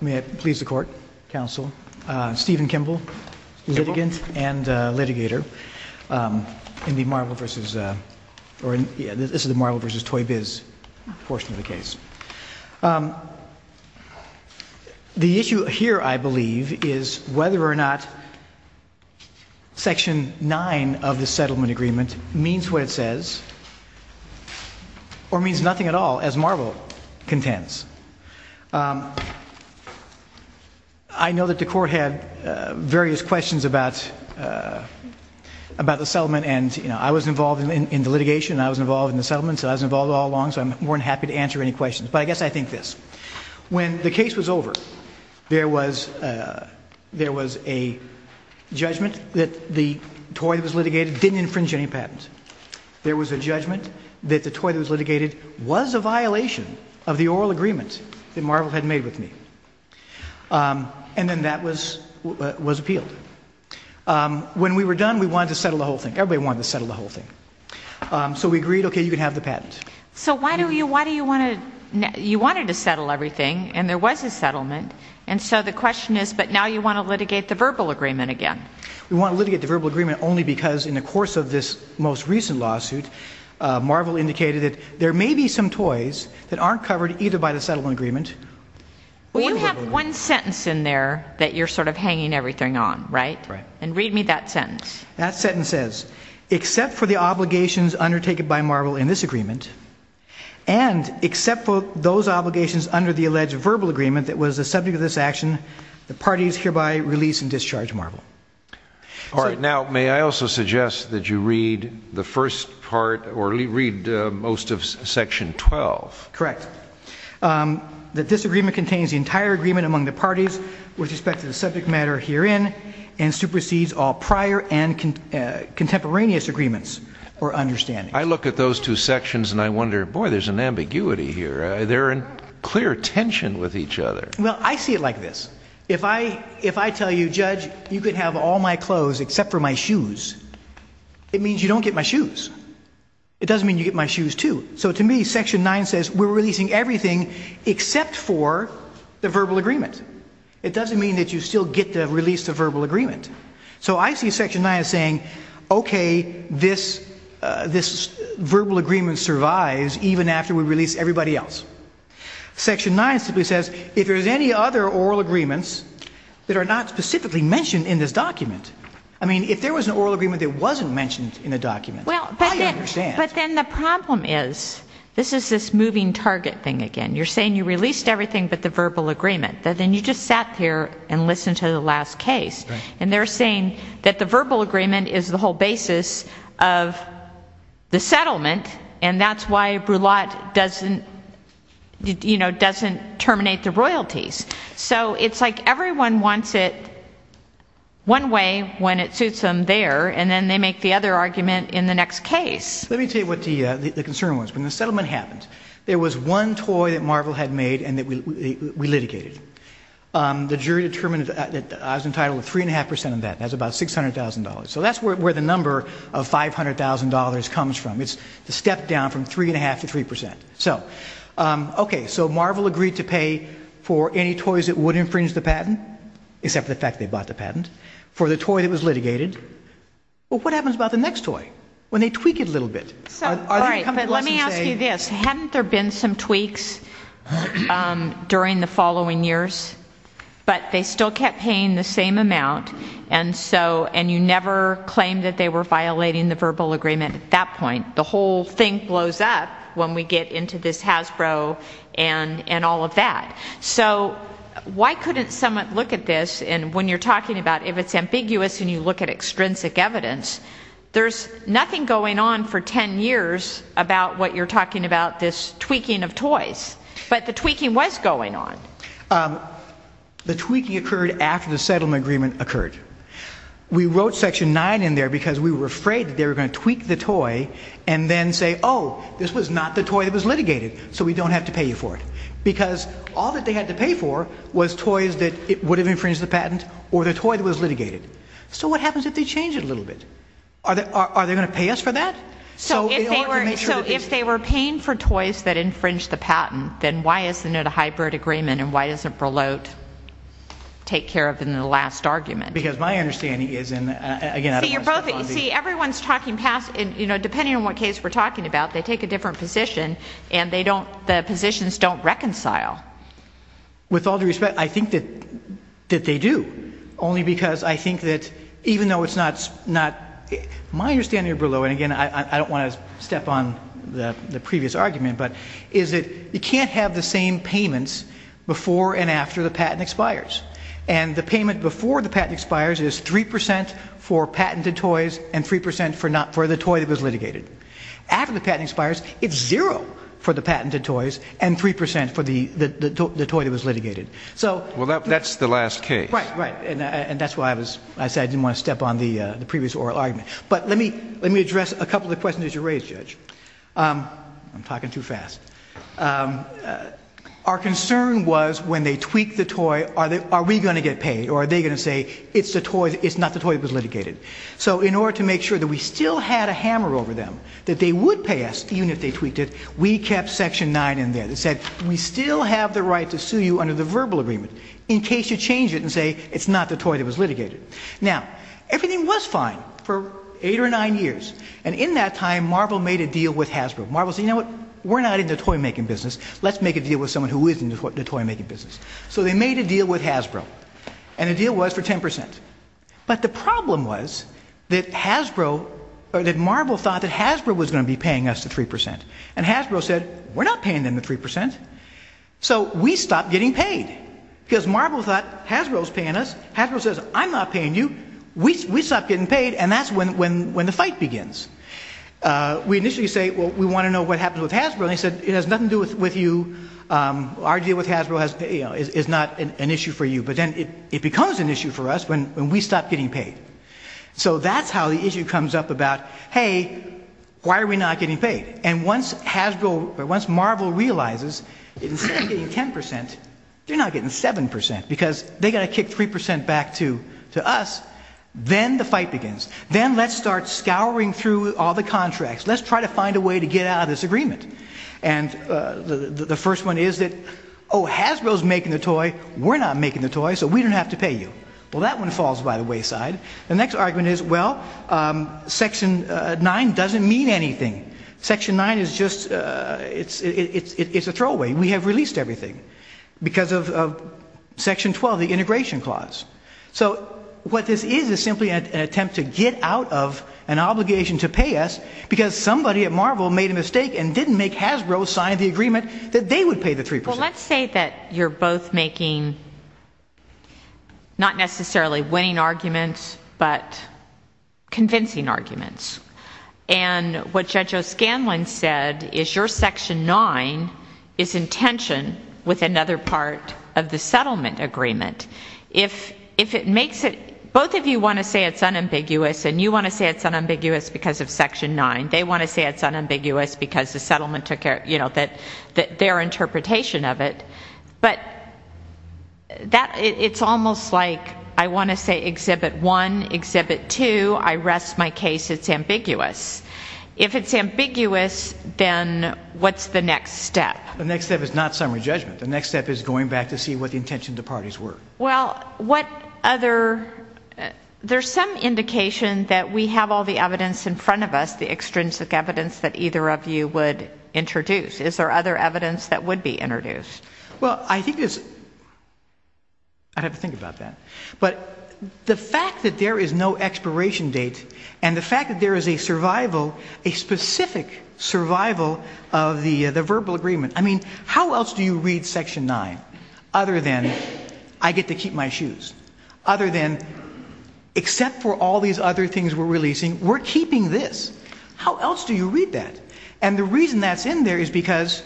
May it please the court, counsel. Stephen Kimble, litigant and litigator in the Marvel vs. or this is the Marvel vs. Toy Biz portion of the case. The issue here, I believe, is whether or not Section 9 of the settlement agreement means what it says or means nothing at all as Marvel contends. I know that the court had various questions about the settlement and I was involved in the litigation and I was involved in the settlement and I was involved all along so I'm more than happy to answer any questions. But I guess I think this. When the case was over, there was a judgment that the toy that was litigated didn't infringe any patent. There was a judgment that the toy that was litigated was a violation of the oral agreement that Marvel had made with me. And then that was appealed. When we were done, we wanted to settle the whole thing. Everybody wanted to settle the whole thing. So we agreed, okay, you can have the patent. So why do you want to, you wanted to settle everything and there was a settlement and so the question is but now you want to litigate the verbal agreement again. We want to litigate the verbal agreement only because in the course of this most recent lawsuit, Marvel indicated that there may be some toys that aren't covered either by the settlement agreement. Well, you have one sentence in there that you're sort of hanging everything on, right? Right. And read me that sentence. That sentence says, except for the obligations undertaken by Marvel in this agreement and except for those obligations under the alleged verbal agreement that was the subject of this action, the parties hereby release and discharge Marvel. All right, now may I also suggest that you read the first part or read most of section 12. Correct. The disagreement contains the entire agreement among the parties with respect to the subject matter herein and supersedes all prior and contemporaneous agreements or understandings. I look at those two sections and I wonder, boy, there's an ambiguity here. They're in clear tension with each other. Well, I see it like this. If I tell you, judge, you can have all my clothes except for my shoes, it means you don't get my shoes. It doesn't mean you get my shoes too. So to me, section 9 says we're releasing everything except for the verbal agreement. It doesn't mean that you still get to release the verbal agreement. So I see section 9 as saying, okay, this verbal agreement survives even after we release everybody else. Section 9 simply says if there's any other oral agreements that are not specifically mentioned in this document. I mean, if there was an oral agreement that wasn't mentioned in the document, I understand. But then the problem is, this is this moving target thing again. You're saying you released everything but the verbal agreement. Then you just sat there and listened to the last case. And they're saying that the verbal agreement is the whole basis of the settlement and that's why Brulotte doesn't terminate the royalties. So it's like everyone wants it one way when it suits them there, and then they make the other argument in the next case. Let me tell you what the concern was. When the settlement happened, there was one toy that Marvel had made and that we litigated. The jury determined that I was entitled to 3.5% of that. That's about $600,000. So that's where the number of $500,000 comes from. It's the step down from 3.5% to 3%. Okay, so Marvel agreed to pay for any toys that would infringe the patent, except for the fact they bought the patent, for the toy that was litigated. Well, what happens about the next toy when they tweak it a little bit? Let me ask you this. Hadn't there been some tweaks during the following years, but they still kept paying the same amount and you never claimed that they were violating the verbal agreement at that point? The whole thing blows up when we get into this Hasbro and all of that. So why couldn't someone look at this? And when you're talking about if it's ambiguous and you look at extrinsic evidence, there's nothing going on for 10 years about what you're talking about, this tweaking of toys. But the tweaking was going on. The tweaking occurred after the settlement agreement occurred. We wrote Section 9 in there because we were afraid they were going to tweak the toy and then say, oh, this was not the toy that was litigated, so we don't have to pay you for it. Because all that they had to pay for was toys that would have infringed the patent or the toy that was litigated. So what happens if they change it a little bit? Are they going to pay us for that? So if they were paying for toys that infringed the patent, then why isn't it a hybrid agreement and why doesn't Berlot take care of it in the last argument? Because my understanding is, and again, I don't want to spoof on you. See, everyone's talking past, you know, depending on what case we're talking about, they take a different position and they don't, the positions don't reconcile. With all due respect, I think that they do, only because I think that even though it's not, my understanding of Berlot, and again, I don't want to step on the previous argument, but is that you can't have the same payments before and after the patent expires. And the payment before the patent expires is 3% for patented toys and 3% for the toy that was litigated. After the patent expires, it's zero for the patented toys and 3% for the toy that was litigated. Well, that's the last case. Right, right, and that's why I said I didn't want to step on the previous oral argument. But let me address a couple of the questions that you raised, Judge. I'm talking too fast. Our concern was when they tweaked the toy, are we going to get paid, or are they going to say it's not the toy that was litigated? So in order to make sure that we still had a hammer over them, that they would pay us even if they tweaked it, we kept Section 9 in there that said we still have the right to sue you under the verbal agreement in case you change it and say it's not the toy that was litigated. Now, everything was fine for eight or nine years. And in that time, Marvel made a deal with Hasbro. Marvel said, you know what, we're not in the toy-making business. Let's make a deal with someone who is in the toy-making business. So they made a deal with Hasbro. And the deal was for 10%. But the problem was that Hasbro, that Marvel thought that Hasbro was going to be paying us the 3%. And Hasbro said, we're not paying them the 3%. So we stopped getting paid because Marvel thought Hasbro was paying us. Hasbro says, I'm not paying you. We stopped getting paid. And that's when the fight begins. We initially say, well, we want to know what happens with Hasbro. And they said, it has nothing to do with you. Our deal with Hasbro is not an issue for you. But then it becomes an issue for us when we stop getting paid. So that's how the issue comes up about, hey, why are we not getting paid? And once Hasbro, once Marvel realizes, instead of getting 10%, they're now getting 7%. Because they've got to kick 3% back to us. Then the fight begins. Then let's start scouring through all the contracts. Let's try to find a way to get out of this agreement. And the first one is that, oh, Hasbro is making the toy. We're not making the toy, so we don't have to pay you. Well, that one falls by the wayside. The next argument is, well, Section 9 doesn't mean anything. Section 9 is just a throwaway. We have released everything because of Section 12, the integration clause. So what this is is simply an attempt to get out of an obligation to pay us because somebody at Marvel made a mistake and didn't make Hasbro sign the agreement that they would pay the 3%. Well, let's say that you're both making not necessarily winning arguments but convincing arguments. And what Judge O'Scanlan said is your Section 9 is in tension with another part of the settlement agreement. Both of you want to say it's unambiguous, and you want to say it's unambiguous because of Section 9. They want to say it's unambiguous because the settlement took care of their interpretation of it. But it's almost like I want to say Exhibit 1, Exhibit 2, I rest my case, it's ambiguous. If it's ambiguous, then what's the next step? The next step is not summary judgment. The next step is going back to see what the intention of the parties were. Well, what other, there's some indication that we have all the evidence in front of us, the extrinsic evidence that either of you would introduce. Is there other evidence that would be introduced? Well, I think it's, I'd have to think about that. But the fact that there is no expiration date and the fact that there is a survival, a specific survival of the verbal agreement. I mean, how else do you read Section 9 other than I get to keep my shoes? Other than except for all these other things we're releasing, we're keeping this. How else do you read that? And the reason that's in there is because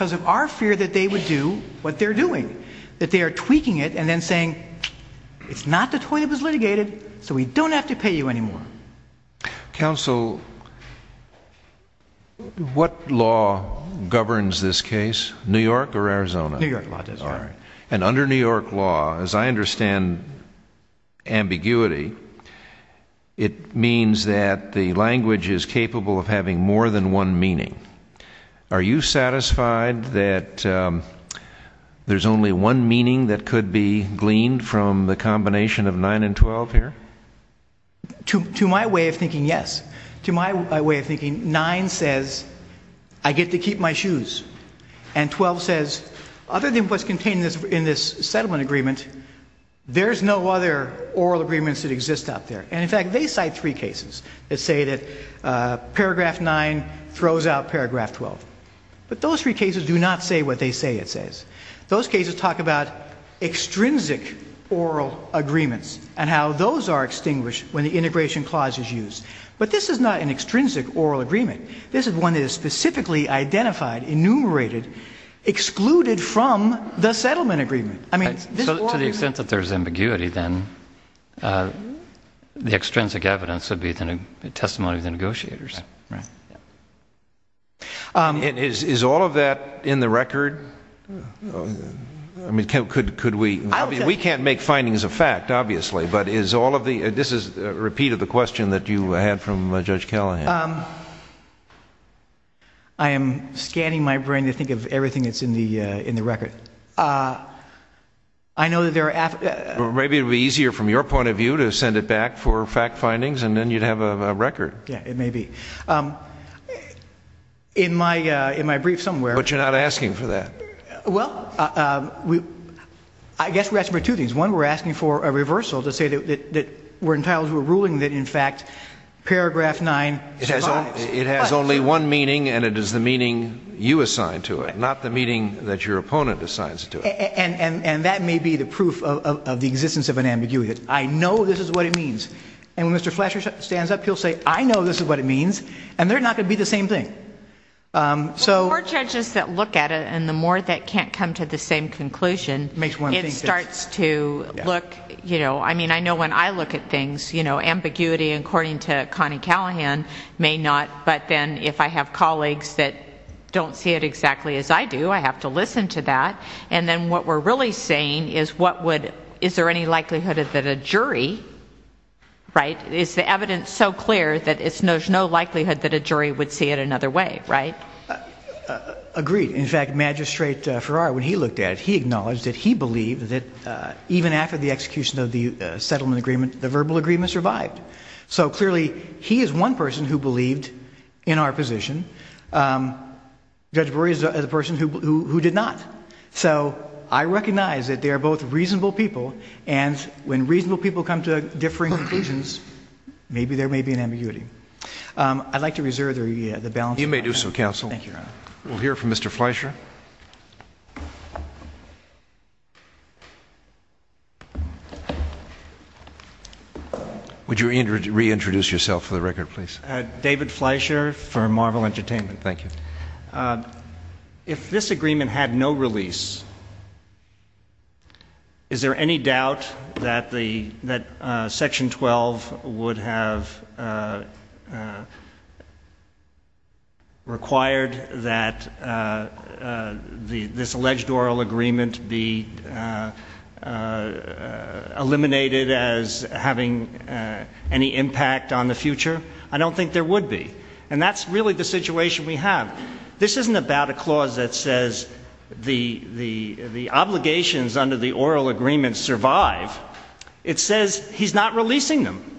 of our fear that they would do what they're doing, that they are tweaking it and then saying, it's not the toy that was litigated, so we don't have to pay you anymore. Counsel, what law governs this case, New York or Arizona? New York law does. New York law, as I understand ambiguity, it means that the language is capable of having more than one meaning. Are you satisfied that there's only one meaning that could be gleaned from the combination of 9 and 12 here? To my way of thinking, yes. To my way of thinking, 9 says, I get to keep my shoes. And 12 says, other than what's contained in this settlement agreement, there's no other oral agreements that exist out there. And in fact, they cite three cases that say that paragraph 9 throws out paragraph 12. But those three cases do not say what they say it says. Those cases talk about extrinsic oral agreements and how those are extinguished when the integration clause is used. But this is not an extrinsic oral agreement. This is one that is specifically identified, enumerated, excluded from the settlement agreement. To the extent that there's ambiguity, then, the extrinsic evidence would be the testimony of the negotiators. Is all of that in the record? We can't make findings of fact, obviously. This is a repeat of the question that you had from Judge Callahan. I am scanning my brain to think of everything that's in the record. Maybe it would be easier from your point of view to send it back for fact findings, and then you'd have a record. Yeah, it may be. In my brief somewhere... But you're not asking for that. Well, I guess we're asking for two things. One, we're asking for a reversal to say that we're entitled to a ruling that, in fact, paragraph 9 survives. It has only one meaning, and it is the meaning you assign to it, not the meaning that your opponent assigns to it. And that may be the proof of the existence of an ambiguity. I know this is what it means. And when Mr. Fletcher stands up, he'll say, I know this is what it means. And they're not going to be the same thing. The more judges that look at it and the more that can't come to the same conclusion, it starts to look... I mean, I know when I look at things, ambiguity, according to Connie Callahan, may not. But then if I have colleagues that don't see it exactly as I do, I have to listen to that. And then what we're really saying is, is there any likelihood that a jury... Agreed. In fact, Magistrate Farrar, when he looked at it, he acknowledged that he believed that even after the execution of the settlement agreement, the verbal agreement survived. So clearly he is one person who believed in our position. Judge Brewer is a person who did not. So I recognize that they are both reasonable people, and when reasonable people come to differing conclusions, maybe there may be an ambiguity. I'd like to reserve the balance of my time. You may do so, Counsel. Thank you, Your Honor. We'll hear from Mr. Fleischer. Would you reintroduce yourself for the record, please? David Fleischer for Marvel Entertainment. Thank you. If this agreement had no release, is there any doubt that Section 12 would have required that this alleged oral agreement be eliminated as having any impact on the future? I don't think there would be. And that's really the situation we have. This isn't about a clause that says the obligations under the oral agreement survive. It says he's not releasing them.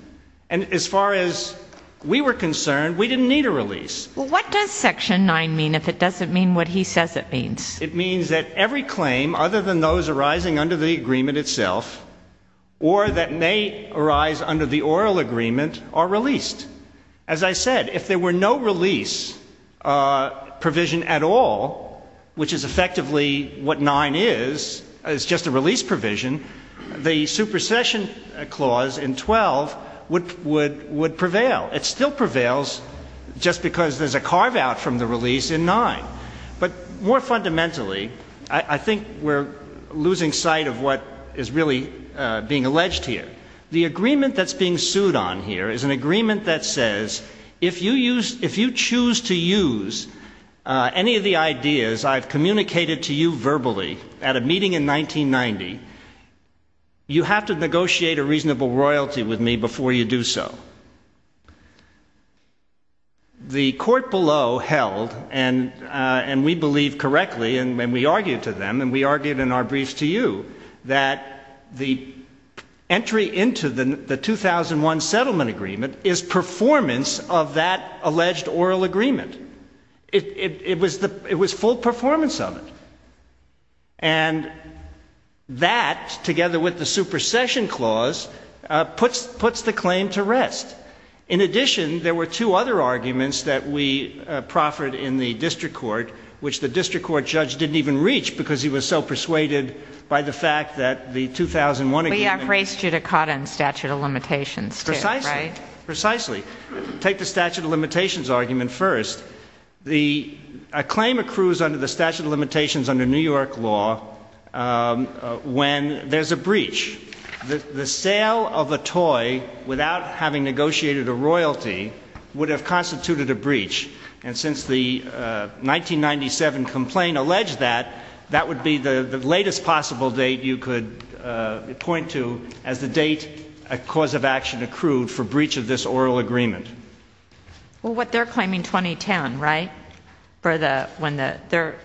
And as far as we were concerned, we didn't need a release. What does Section 9 mean, if it doesn't mean what he says it means? It means that every claim, other than those arising under the agreement itself, or that may arise under the oral agreement, are released. As I said, if there were no release provision at all, which is effectively what 9 is, it's just a release provision, the supersession clause in 12 would prevail. It still prevails just because there's a carve-out from the release in 9. But more fundamentally, I think we're losing sight of what is really being alleged here. The agreement that's being sued on here is an agreement that says if you choose to use any of the ideas I've communicated to you verbally at a meeting in 1990, you have to negotiate a reasonable royalty with me before you do so. The court below held, and we believe correctly, and we argued to them, and we argued in our briefs to you, that the entry into the 2001 settlement agreement is performance of that alleged oral agreement. It was full performance of it. And that, together with the supersession clause, puts the claim to rest. In addition, there were two other arguments that we proffered in the district court, which the district court judge didn't even reach because he was so persuaded by the fact that the 2001 agreement... We have raised judicata and statute of limitations, too, right? Precisely. Precisely. Take the statute of limitations argument first. A claim accrues under the statute of limitations under New York law when there's a breach. The sale of a toy without having negotiated a royalty would have constituted a breach. And since the 1997 complaint alleged that, that would be the latest possible date you could point to as the date a cause of action accrued for breach of this oral agreement. Well, what they're claiming, 2010, right? For the, when the, they're,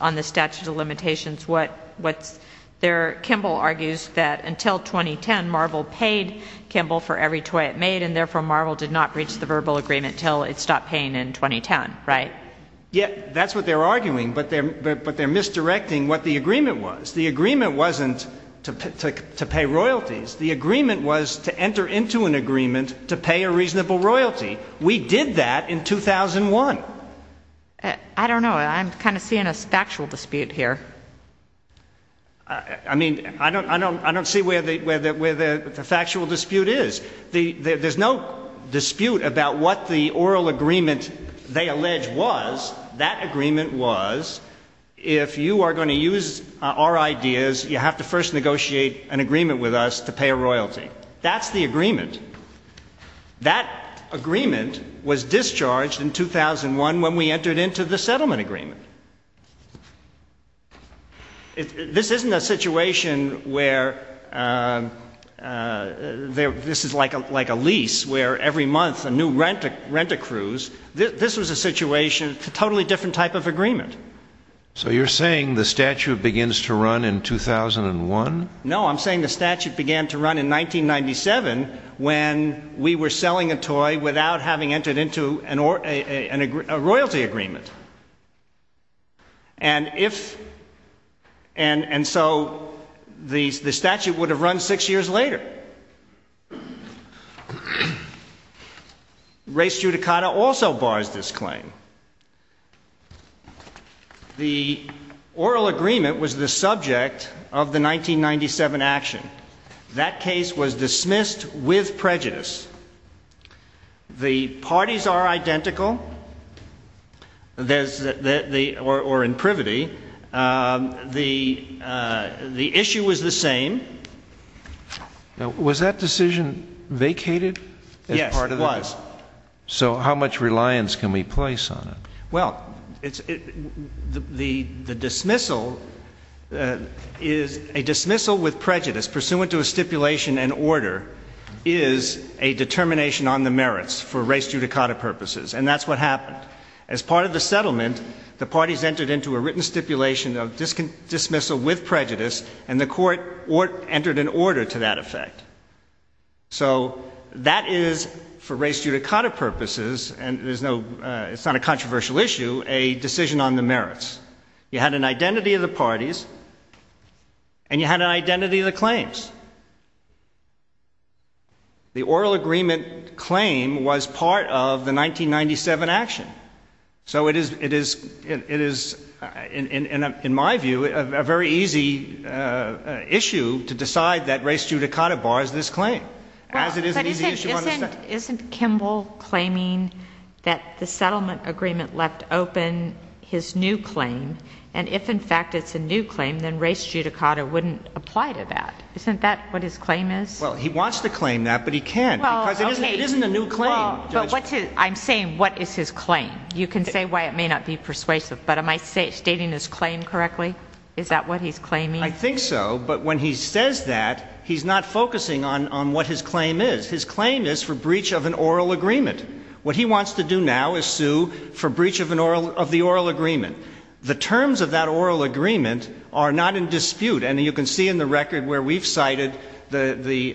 on the statute of limitations, what, what's, they're, Kimball argues that until 2010, Marvel paid Kimball for every toy it made, and therefore Marvel did not breach the verbal agreement until it stopped paying in 2010, right? Yeah, that's what they're arguing, but they're, but they're misdirecting what the agreement was. The agreement wasn't to pay royalties. The agreement was to enter into an agreement to pay a reasonable royalty. We did that in 2001. I don't know. I'm kind of seeing a factual dispute here. I mean, I don't, I don't, I don't see where the, where the, where the factual dispute is. There's no dispute about what the oral agreement they allege was. That agreement was, if you are going to use our ideas, you have to first negotiate an agreement with us to pay a royalty. That's the agreement. That agreement was discharged in 2001 when we entered into the settlement agreement. This isn't a situation where this is like a lease where every month a new rent accrues. This was a situation, a totally different type of agreement. So you're saying the statute begins to run in 2001? No, I'm saying the statute began to run in 1997 when we were selling a toy without having entered into a royalty agreement. And if, and so the statute would have run six years later. Race Judicata also bars this claim. The oral agreement was the subject of the 1997 action. That case was dismissed with prejudice. The parties are identical. There's, or in privity, the issue was the same. Was that decision vacated? Yes, it was. So how much reliance can we place on it? Well, the dismissal is, a dismissal with prejudice pursuant to a stipulation and order is a determination on the merits for Race Judicata purposes. And that's what happened. As part of the settlement, the parties entered into a written stipulation of dismissal with prejudice and the court entered an order to that effect. So that is, for Race Judicata purposes, and there's no, it's not a controversial issue, a decision on the merits. You had an identity of the parties and you had an identity of the claims. The oral agreement claim was part of the 1997 action. So it is, it is, it is, in my view, a very easy issue to decide that Race Judicata bars this claim, as it is an easy issue on the statute. Well, but isn't, isn't, isn't Kimball claiming that the settlement agreement left open his new claim? And if in fact it's a new claim, then Race Judicata wouldn't apply to that. Isn't that what his claim is? Well, he wants to claim that, but he can't because it isn't, it isn't a new claim. But what's his, I'm saying what is his claim? You can say why it may not be persuasive, but am I stating his claim correctly? Is that what he's claiming? I think so, but when he says that, he's not focusing on, on what his claim is. His claim is for breach of an oral agreement. What he wants to do now is sue for breach of an oral, of the oral agreement. The terms of that oral agreement are not in dispute, and you can see in the record where we've cited the, the,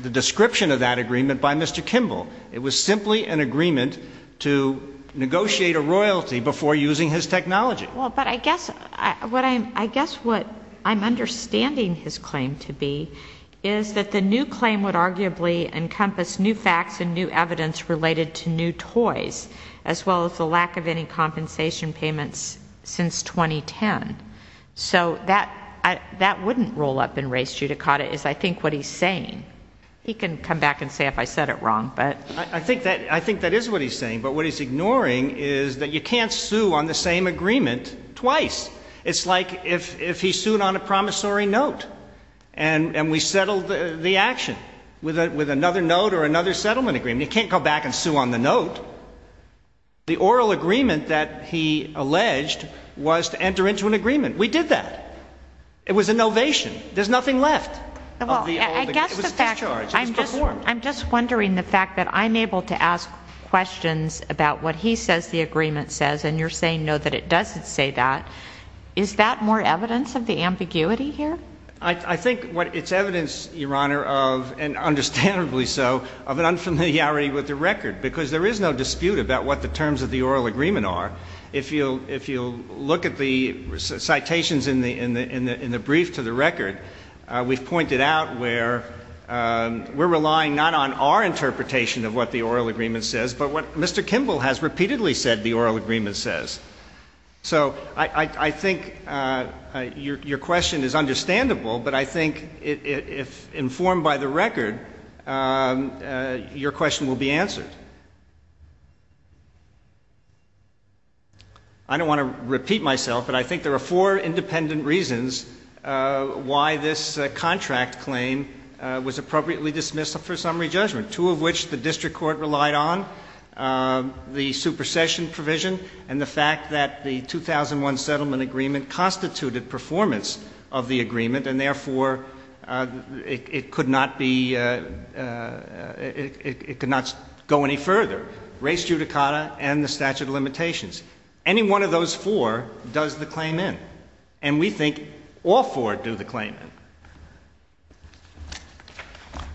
the description of that agreement by Mr. Kimball. It was simply an agreement to negotiate a royalty before using his technology. Well, but I guess what I'm, I guess what I'm understanding his claim to be is that the new claim would arguably encompass new facts and new evidence related to new toys, as well as the lack of any compensation payments since 2010. So that, that wouldn't roll up in Race Judicata is I think what he's saying. He can come back and say if I said it wrong, but. I think that, I think that is what he's saying, but what he's ignoring is that you can't sue on the same agreement twice. It's like if, if he sued on a promissory note and, and we settled the action with a, with another note or another settlement agreement. You can't go back and sue on the note. The oral agreement that he alleged was to enter into an agreement. We did that. It was a novation. There's nothing left. I'm just, I'm just wondering the fact that I'm able to ask questions about what he says the agreement says, and you're saying no, that it doesn't say that. Is that more evidence of the ambiguity here? I think what it's evidence, Your Honor, of, and understandably so, of an unfamiliarity with the record, because there is no dispute about what the terms of the oral agreement are. If you'll, if you'll look at the citations in the, in the, in the brief to the record, we've pointed out where we're relying not on our interpretation of what the oral agreement says, but what Mr. Kimball has repeatedly said the oral agreement says. So I think your question is understandable, but I think if informed by the record, your question will be answered. I don't want to repeat myself, but I think there are four independent reasons why this contract claim was appropriately dismissed for summary judgment, two of which the district court relied on, the supersession provision, and the fact that the 2001 settlement agreement constituted performance of the agreement, and therefore it could not be, it could not go any further, race judicata and the statute of limitations. Any one of those four does the claim in, and we think all four do the claim in.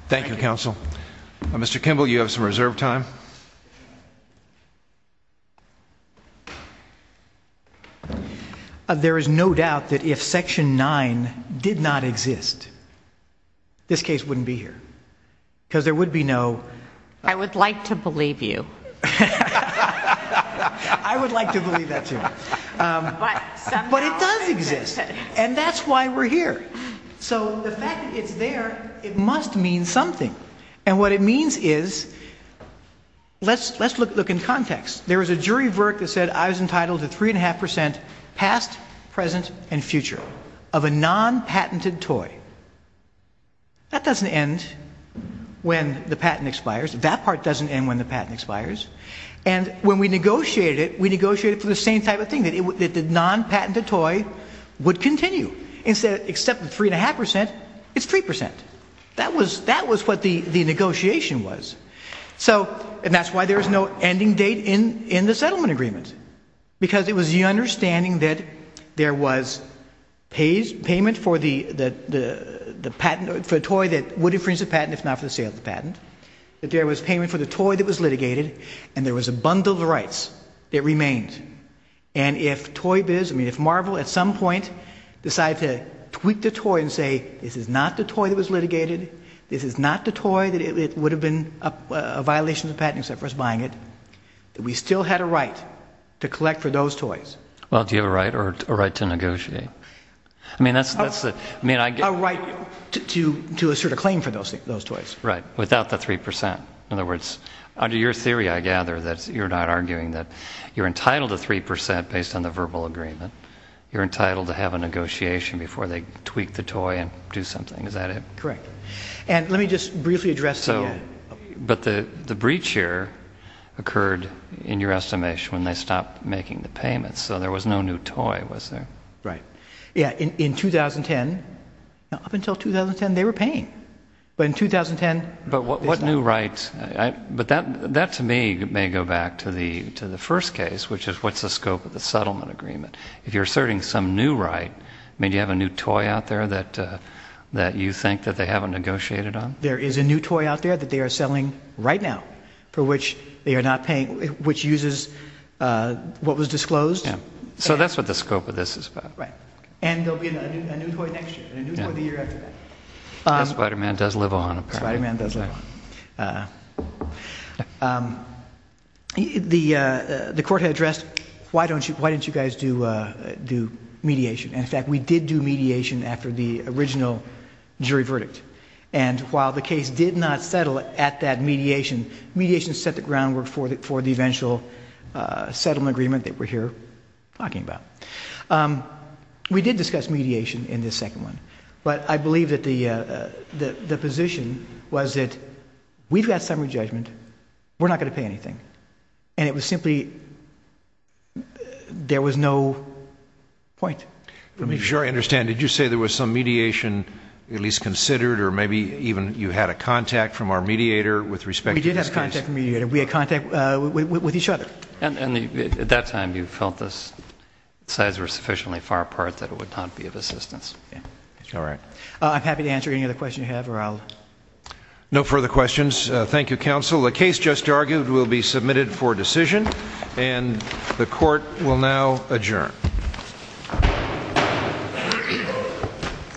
Thank you, counsel. Mr. Kimball, you have some reserve time. There is no doubt that if section nine did not exist, this case wouldn't be here, because there would be no... I would like to believe you. I would like to believe that too. But it does exist, and that's why we're here. So the fact that it's there, it must mean something. And what it means is, let's look in context. There was a jury of work that said I was entitled to three and a half percent past, present, and future of a non-patented toy. That doesn't end when the patent expires. That part doesn't end when the patent expires. And when we negotiated it, we negotiated for the same type of thing, that the non-patented toy would continue. Except for three and a half percent, it's three percent. That was what the negotiation was. And that's why there was no ending date in the settlement agreement. Because it was the understanding that there was payment for the toy that would infringe the patent, if not for the sale of the patent. That there was payment for the toy that was litigated, and there was a bundle of rights that remained. And if Marvel at some point decided to tweak the toy and say this is not the toy that was litigated, this is not the toy that would have been a violation of the patent except for us buying it, that we still had a right to collect for those toys. Well, do you have a right or a right to negotiate? A right to assert a claim for those toys. Right, without the three percent. In other words, under your theory, I gather, that you're not arguing that you're entitled to three percent based on the verbal agreement. You're entitled to have a negotiation before they tweak the toy and do something. Is that it? Correct. And let me just briefly address the... But the breach here occurred, in your estimation, when they stopped making the payments. So there was no new toy, was there? Right. Yeah, in 2010, up until 2010, they were paying. But in 2010... But what new rights... But that, to me, may go back to the first case, which is what's the scope of the settlement agreement. If you're asserting some new right, do you have a new toy out there that you think that they haven't negotiated on? There is a new toy out there that they are selling right now for which they are not paying, which uses what was disclosed. So that's what the scope of this is about. Right. And there will be a new toy next year and a new toy the year after that. Spider-Man does live on, apparently. Spider-Man does live on. The court had addressed, why don't you guys do mediation? And, in fact, we did do mediation after the original jury verdict. And while the case did not settle at that mediation, mediation set the groundwork for the eventual settlement agreement that we're here talking about. We did discuss mediation in this second one. But I believe that the position was that we've got summary judgment. We're not going to pay anything. And it was simply there was no point. Let me be sure I understand. Did you say there was some mediation at least considered or maybe even you had a contact from our mediator with respect to this case? We did have contact from the mediator. We had contact with each other. At that time, you felt the sides were sufficiently far apart that it would not be of assistance. All right. I'm happy to answer any other questions you have. No further questions. Thank you, counsel. The case just argued will be submitted for decision. And the court will now adjourn.